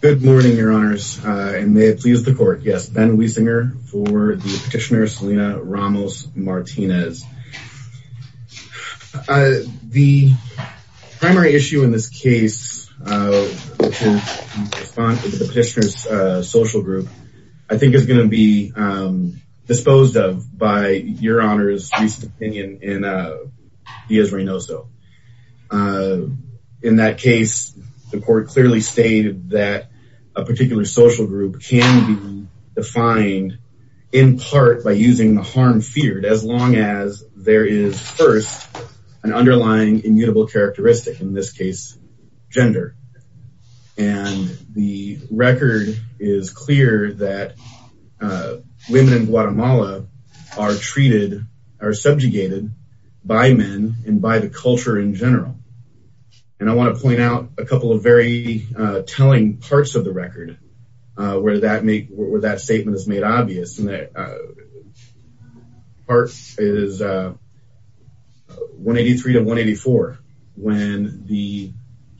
Good morning your honors and may it please the court yes Ben Wiesinger for the petitioner Selena Ramos Martinez. The primary issue in this case which is the petitioner's social group I think is going to be disposed of by your honors recent opinion in Dias Reynoso. In that case the court clearly stated that a particular social group can be defined in part by using the harm feared as long as there is first an underlying immutable characteristic in this case gender and the record is clear that women in Guatemala are treated are subjugated by men and by the culture in general and I want to point out a couple of very telling parts of the record where that make where that statement is obvious and that part is 183 to 184 when the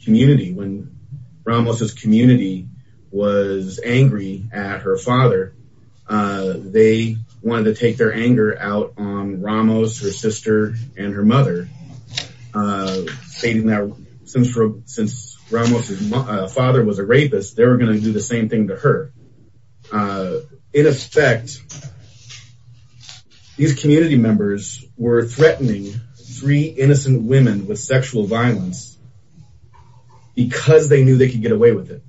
community when Ramos's community was angry at her father they wanted to take their anger out on Ramos her sister and her mother stating that since since Ramos's father was a rapist they were gonna do the same thing to her in effect these community members were threatening three innocent women with sexual violence because they knew they could get away with it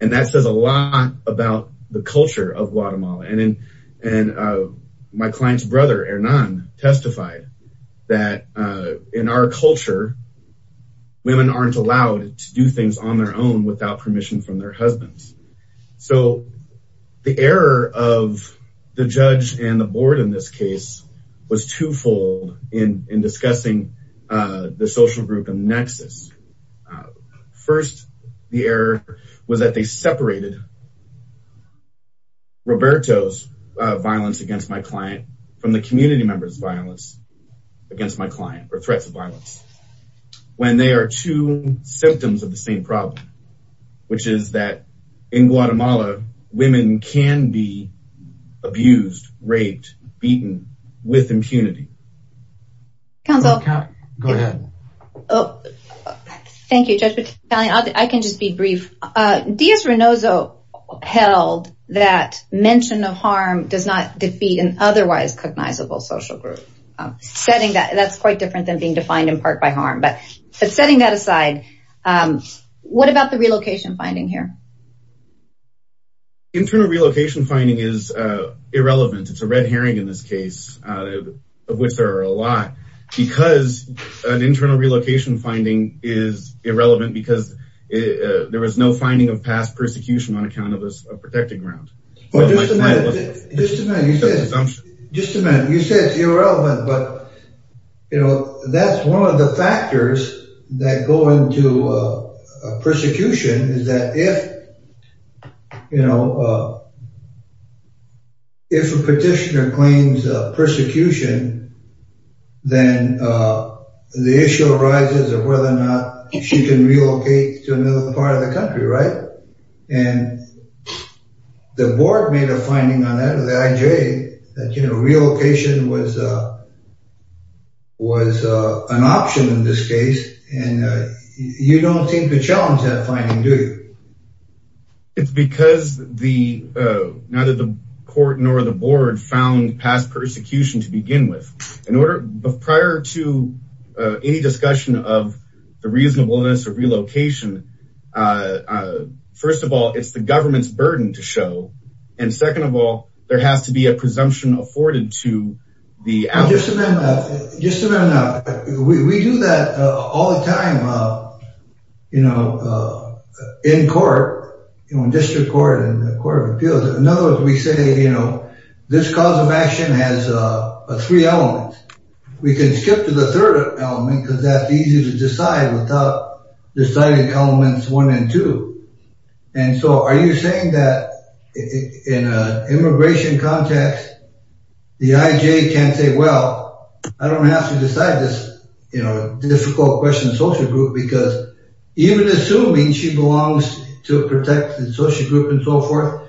and that says a lot about the culture of Guatemala and in and my client's brother Hernan testified that in our culture women aren't allowed to do things on their own without permission from their husbands so the error of the judge and the board in this case was twofold in in discussing the social group and nexus first the error was that they separated Roberto's violence against my client from the community members violence against my symptoms of the same problem which is that in Guatemala women can be abused raped beaten with impunity council go ahead oh thank you judge but I can just be brief Diaz-Renozo held that mention of harm does not defeat an otherwise cognizable social group setting that that's quite different than being defined in part by harm but but setting that aside what about the relocation finding here internal relocation finding is irrelevant it's a red herring in this case of which there are a lot because an internal relocation finding is irrelevant because there was no finding of past persecution on account of us a one of the factors that go into a persecution is that if you know if a petitioner claims persecution then the issue arises of whether or not she can relocate to another part of the country right and the board made a finding on that you know relocation was was an option in this case and you don't think the challenge that finding do it's because the now that the court nor the board found past persecution to begin with in order prior to any discussion of the reasonableness of relocation first of all it's the government's burden to and second of all there has to be a presumption afforded to the we do that all the time you know in court you know in district court and the court of appeals in other words we say you know this cause of action has a three elements we can skip to the third element because that's easy to decide without deciding elements one and two and so are you saying that in a immigration context the IJ can't say well I don't have to decide this you know difficult question social group because even assuming she belongs to protect the social group and so forth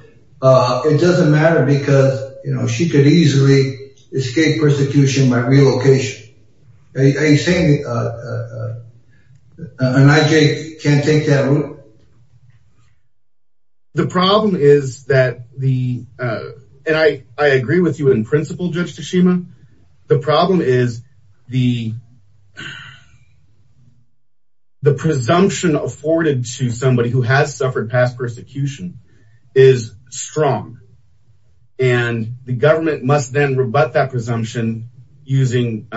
it doesn't matter because you know she could easily escape persecution by the problem is that the and I I agree with you in principle judge Tashima the problem is the the presumption afforded to somebody who has suffered past persecution is strong and the government must then rebut that presumption using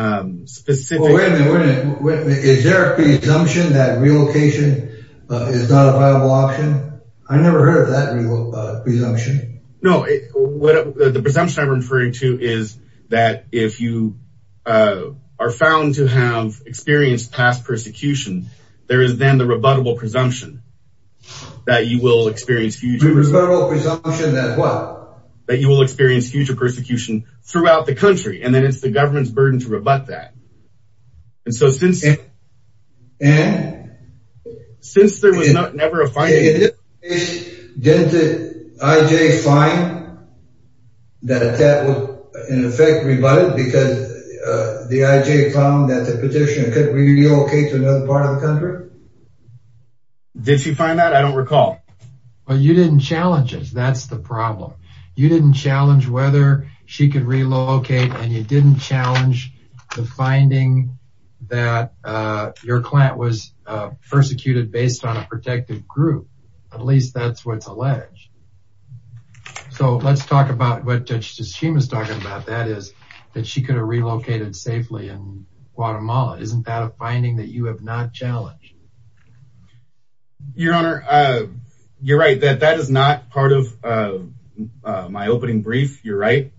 specific is there a presumption that relocation is not a viable option I never heard of that presumption no the presumption I'm referring to is that if you are found to have experienced past persecution there is then the rebuttable presumption that you will experience future presumption that what that you will experience future persecution throughout the country and then it's the government's burden to rebut that and so since it and since there was not never a fight did the IJ find that that would in effect rebut it because the IJ found that the petitioner could relocate to another part of the country did she find that I don't recall well you didn't challenge us that's the problem you didn't challenge whether she could relocate and you didn't challenge the finding that your client was persecuted based on a protective group at least that's what's alleged so let's talk about what she was talking about that is that she could have relocated safely in Guatemala isn't that a finding that you opening brief you're right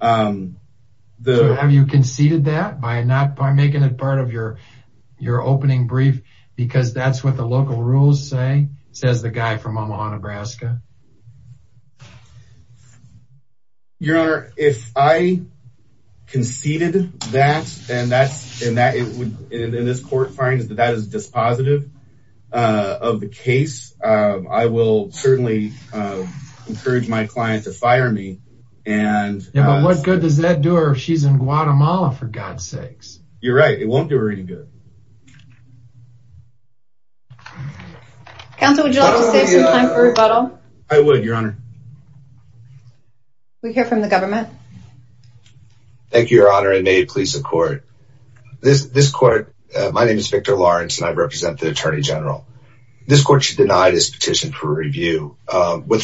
the have you conceded that by not by making it part of your your opening brief because that's what the local rules say says the guy from Omaha Nebraska your honor if I conceded that and that's in that it would in this court finds that that is dispositive of the case I will certainly encourage my client to fire me and what good does that do her she's in Guatemala for God's sakes you're right it won't do her any good counsel would you like to say some time for rebuttal I would your honor we hear from the government thank you your honor and may it please the court this this court my name is Victor Lawrence and I represent the Attorney General this with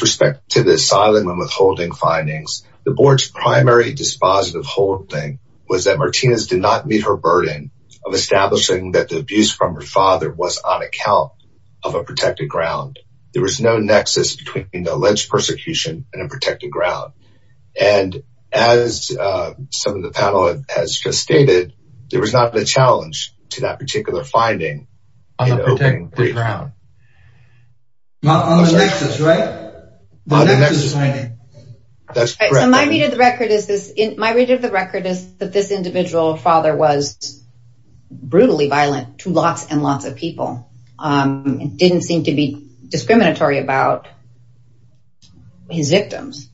respect to the asylum and withholding findings the board's primary dispositive holding was that Martinez did not meet her burden of establishing that the abuse from her father was on account of a protected ground there was no nexus between the alleged persecution and a protected ground and as some of the panel has just stated there was not a challenge to that particular finding on the ground not on the nexus right that's right so my read of the record is this in my read of the record is that this individual father was brutally violent to lots and lots of people it didn't seem to be discriminatory about his victims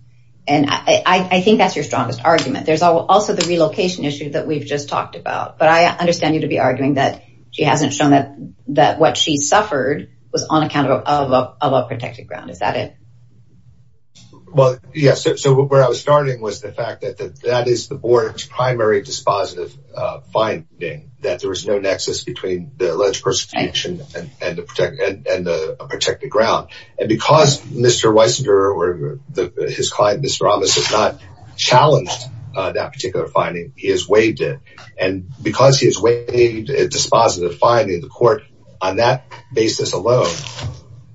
and I think that's your strongest argument there's also the relocation issue that we've just talked about but I understand you to be arguing that she hasn't shown that that what she suffered was on account of a protected ground is that it well yes so where I was starting was the fact that that is the board's primary dispositive finding that there was no nexus between the alleged persecution and the protected ground and because mr. Weisinger or the his client mr. Thomas has not challenged that particular finding he has waived it and because he has waived a dispositive finding the court on that basis alone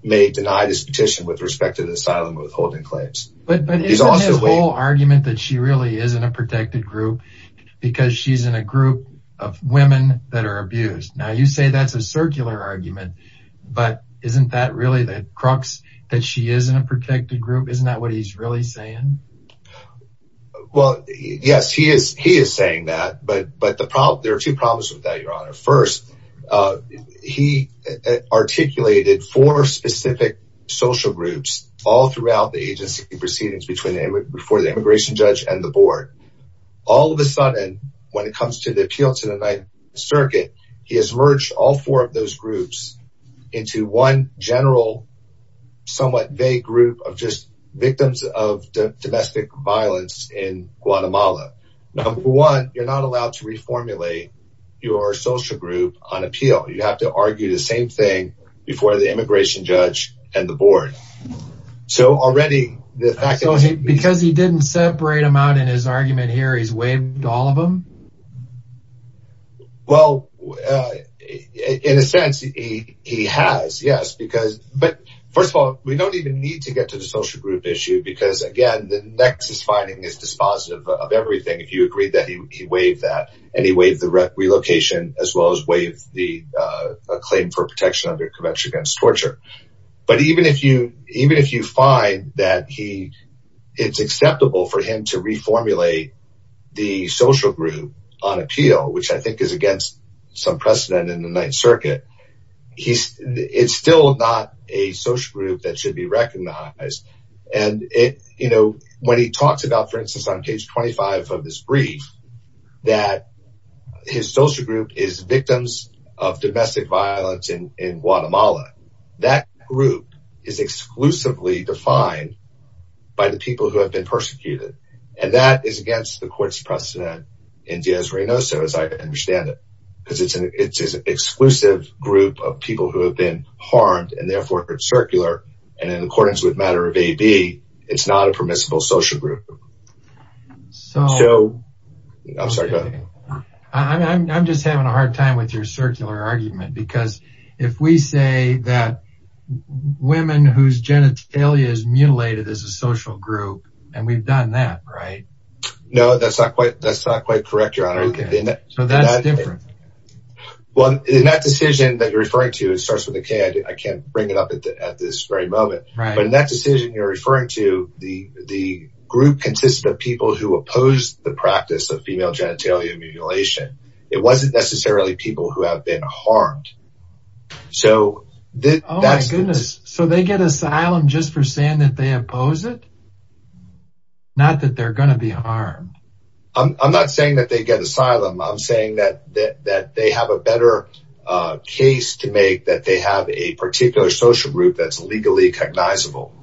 may deny this petition with respect to the asylum withholding claims but he's also a whole argument that she really is in a protected group because she's in a group of women that are abused now you say that's a circular argument but isn't that really the crux that she is in a isn't that what he's really saying well yes he is he is saying that but but the problem there are two problems with that your honor first he articulated for specific social groups all throughout the agency proceedings between them before the immigration judge and the board all of a sudden when it comes to the appeal to the Ninth Circuit he has merged all four of those groups into one general somewhat vague group of just victims of domestic violence in Guatemala number one you're not allowed to reformulate your social group on appeal you have to argue the same thing before the immigration judge and the board so already the fact because he didn't separate him out in his argument here he's waived all of them well in a sense he has yes because but first of all we don't even need to get to the social group issue because again the nexus finding is dispositive of everything if you agree that he waived that and he waived the relocation as well as waived the claim for protection under convention against torture but even if you even if you find that he it's acceptable for him to reformulate the social group on appeal which I think is against some precedent in the Ninth Circuit he's it's still not a social group that should be recognized and it you know when he talks about for instance on page 25 of this brief that his social group is victims of domestic violence in Guatemala that group is exclusively defined by the people who have been persecuted and that is against the court's precedent in Diaz-Reynoso as I understand it because it's an exclusive group of people who have been harmed and therefore it's circular and in accordance with matter of AB it's not a permissible social group so I'm sorry I'm just having a hard time with your circular argument because if we say that women whose genitalia is mutilated as a woman we've done that right no that's not quite that's not quite correct your honor so that's different well in that decision that you're referring to it starts with a K I can't bring it up at this very moment right but in that decision you're referring to the the group consisted of people who oppose the practice of female genitalia mutilation it wasn't necessarily people who have been harmed so that's goodness so they get asylum just for saying that they oppose it not that they're going to be harmed I'm not saying that they get asylum I'm saying that that that they have a better case to make that they have a particular social group that's legally cognizable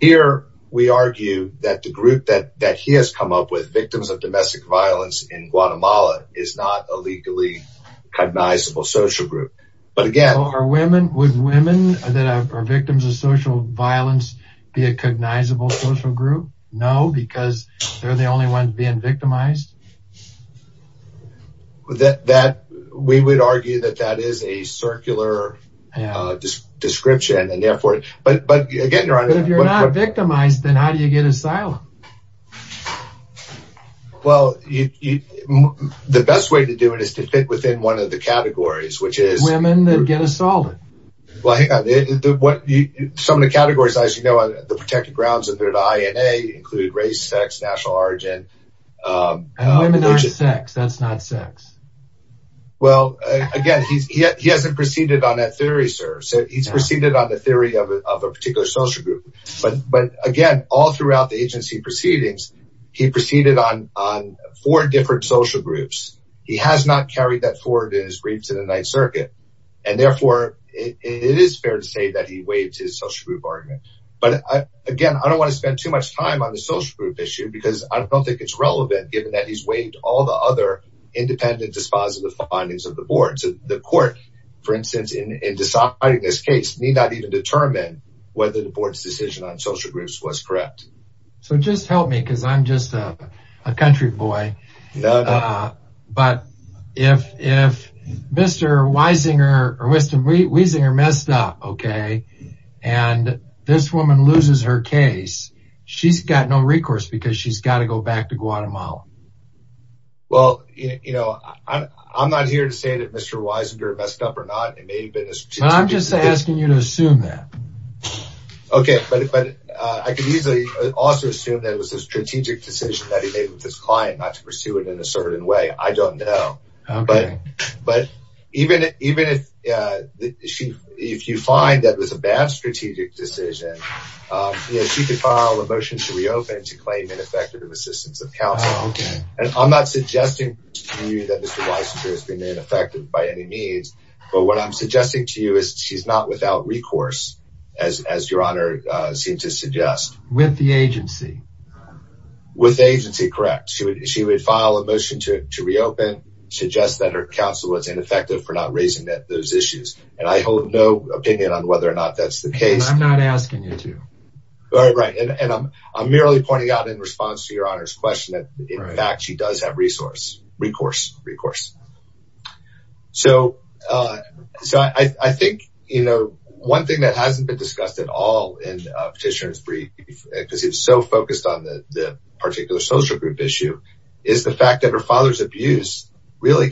here we argue that the group that that he has come up with victims of domestic violence in Guatemala is not a legally cognizable social group but again are women with social violence be a cognizable social group no because they're the only ones being victimized that that we would argue that that is a circular description and therefore but but getting around if you're not victimized then how do you get asylum well you the best way to do it is to fit within one of the some of the categories as you know on the protected grounds of their DNA include race sex national origin sex that's not sex well again he hasn't proceeded on that theory sir so he's proceeded on the theory of a particular social group but but again all throughout the agency proceedings he proceeded on on four different social groups he has not carried that forward in his briefs in the Ninth Circuit and therefore it is fair to say that he but again I don't want to spend too much time on the social group issue because I don't think it's relevant given that he's waived all the other independent dispositive findings of the board so the court for instance in deciding this case need not even determine whether the board's decision on social groups was correct so just help me because I'm just a country boy but if if mr. Weisinger or this woman loses her case she's got no recourse because she's got to go back to Guatemala well you know I'm not here to say that mr. Weisinger messed up or not it may be I'm just asking you to assume that okay but I could easily also assume that it was a strategic decision that he made with his client not to pursue it in a certain way I don't know but but even even if she if you find that was a bad strategic decision you know she could file a motion to reopen to claim ineffective of assistance of counsel and I'm not suggesting to you that mr. Weisinger has been ineffective by any means but what I'm suggesting to you is she's not without recourse as your honor seemed to suggest with the agency with agency correct she would she would file a motion to reopen suggest that her counsel was ineffective for not raising that those issues and I hold no opinion on whether or not that's the case I'm not asking you to all right and I'm I'm merely pointing out in response to your honors question that in fact she does have resource recourse recourse so so I think you know one thing that hasn't been discussed at all in petitioners brief because it's so focused on the particular social group issue is the fact that her father's abuse really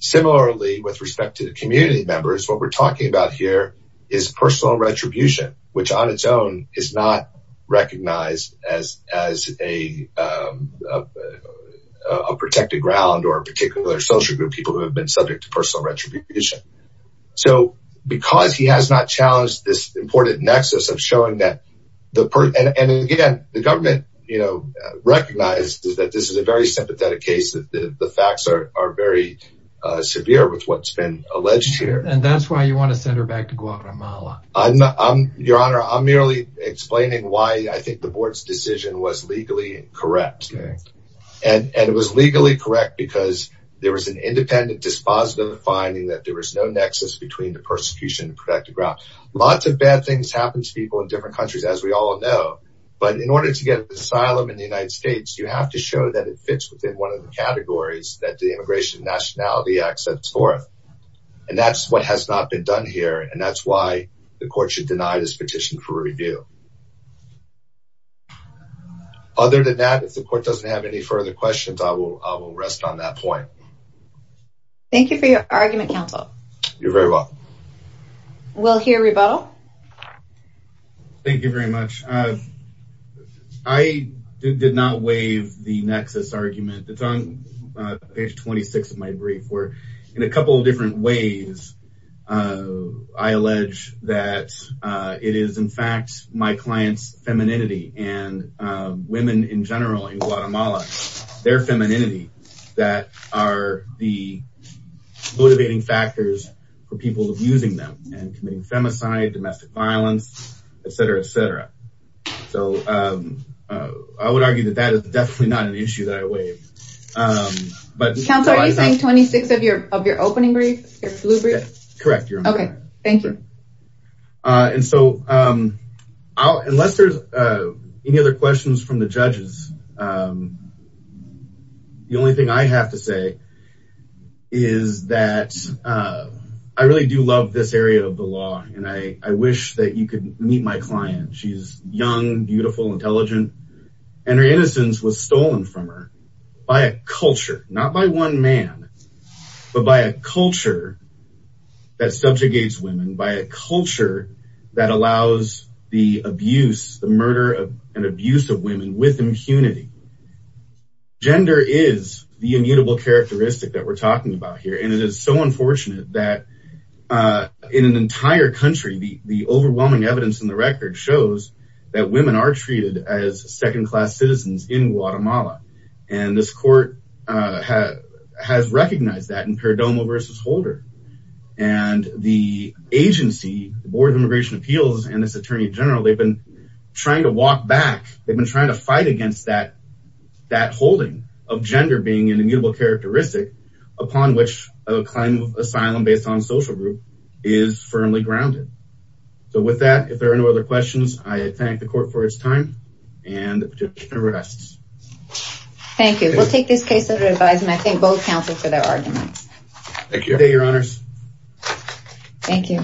similarly with respect to the community members what we're talking about here is personal retribution which on its own is not recognized as as a protected ground or a particular social group people who have been subject to personal retribution so because he has not challenged this important nexus of showing that the part and again the government you know recognized that this is a very sympathetic case that the facts are very severe with what's been alleged here and that's why you want to send her back to Guatemala I'm not I'm your honor I'm merely explaining why I think the board's decision was legally correct and it was legally correct because there was an independent dispositive finding that there was no nexus between the persecution and protected ground lots of bad things happen to people in different countries as we all know but in order to get asylum in the United States you have to show that it fits within one of the categories that the Immigration Nationality Act sets forth and that's what has not been done here and that's why the court should deny this petition for review other than that if the court doesn't have any further questions I will rest on that point thank you for your argument counsel you're very well we'll hear rebuttal thank you very much I did not waive the nexus argument it's on page 26 of my brief where in a couple of different ways I allege that it is in fact my clients femininity and women in general in Guatemala their femininity that are the motivating factors for so I would argue that that is definitely not an issue that I waive but counsel are you saying 26 of your of your opening brief your blue brief correct your honor okay thank you and so I'll unless there's any other questions from the judges the only thing I have to say is that I really do love this area of the she's young beautiful intelligent and her innocence was stolen from her by a culture not by one man but by a culture that subjugates women by a culture that allows the abuse the murder of and abuse of women with impunity gender is the immutable characteristic that we're talking about here and it is so unfortunate that in an that women are treated as second-class citizens in Guatemala and this court has recognized that in perdomo versus holder and the agency the board of immigration appeals and this attorney general they've been trying to walk back they've been trying to fight against that that holding of gender being an immutable characteristic upon which a claim of asylum based on social group is firmly grounded so with that if there are no other questions I thank the court for its time and arrests thank you we'll take this case under advisement I think both counsel for their arguments thank you your honors thank you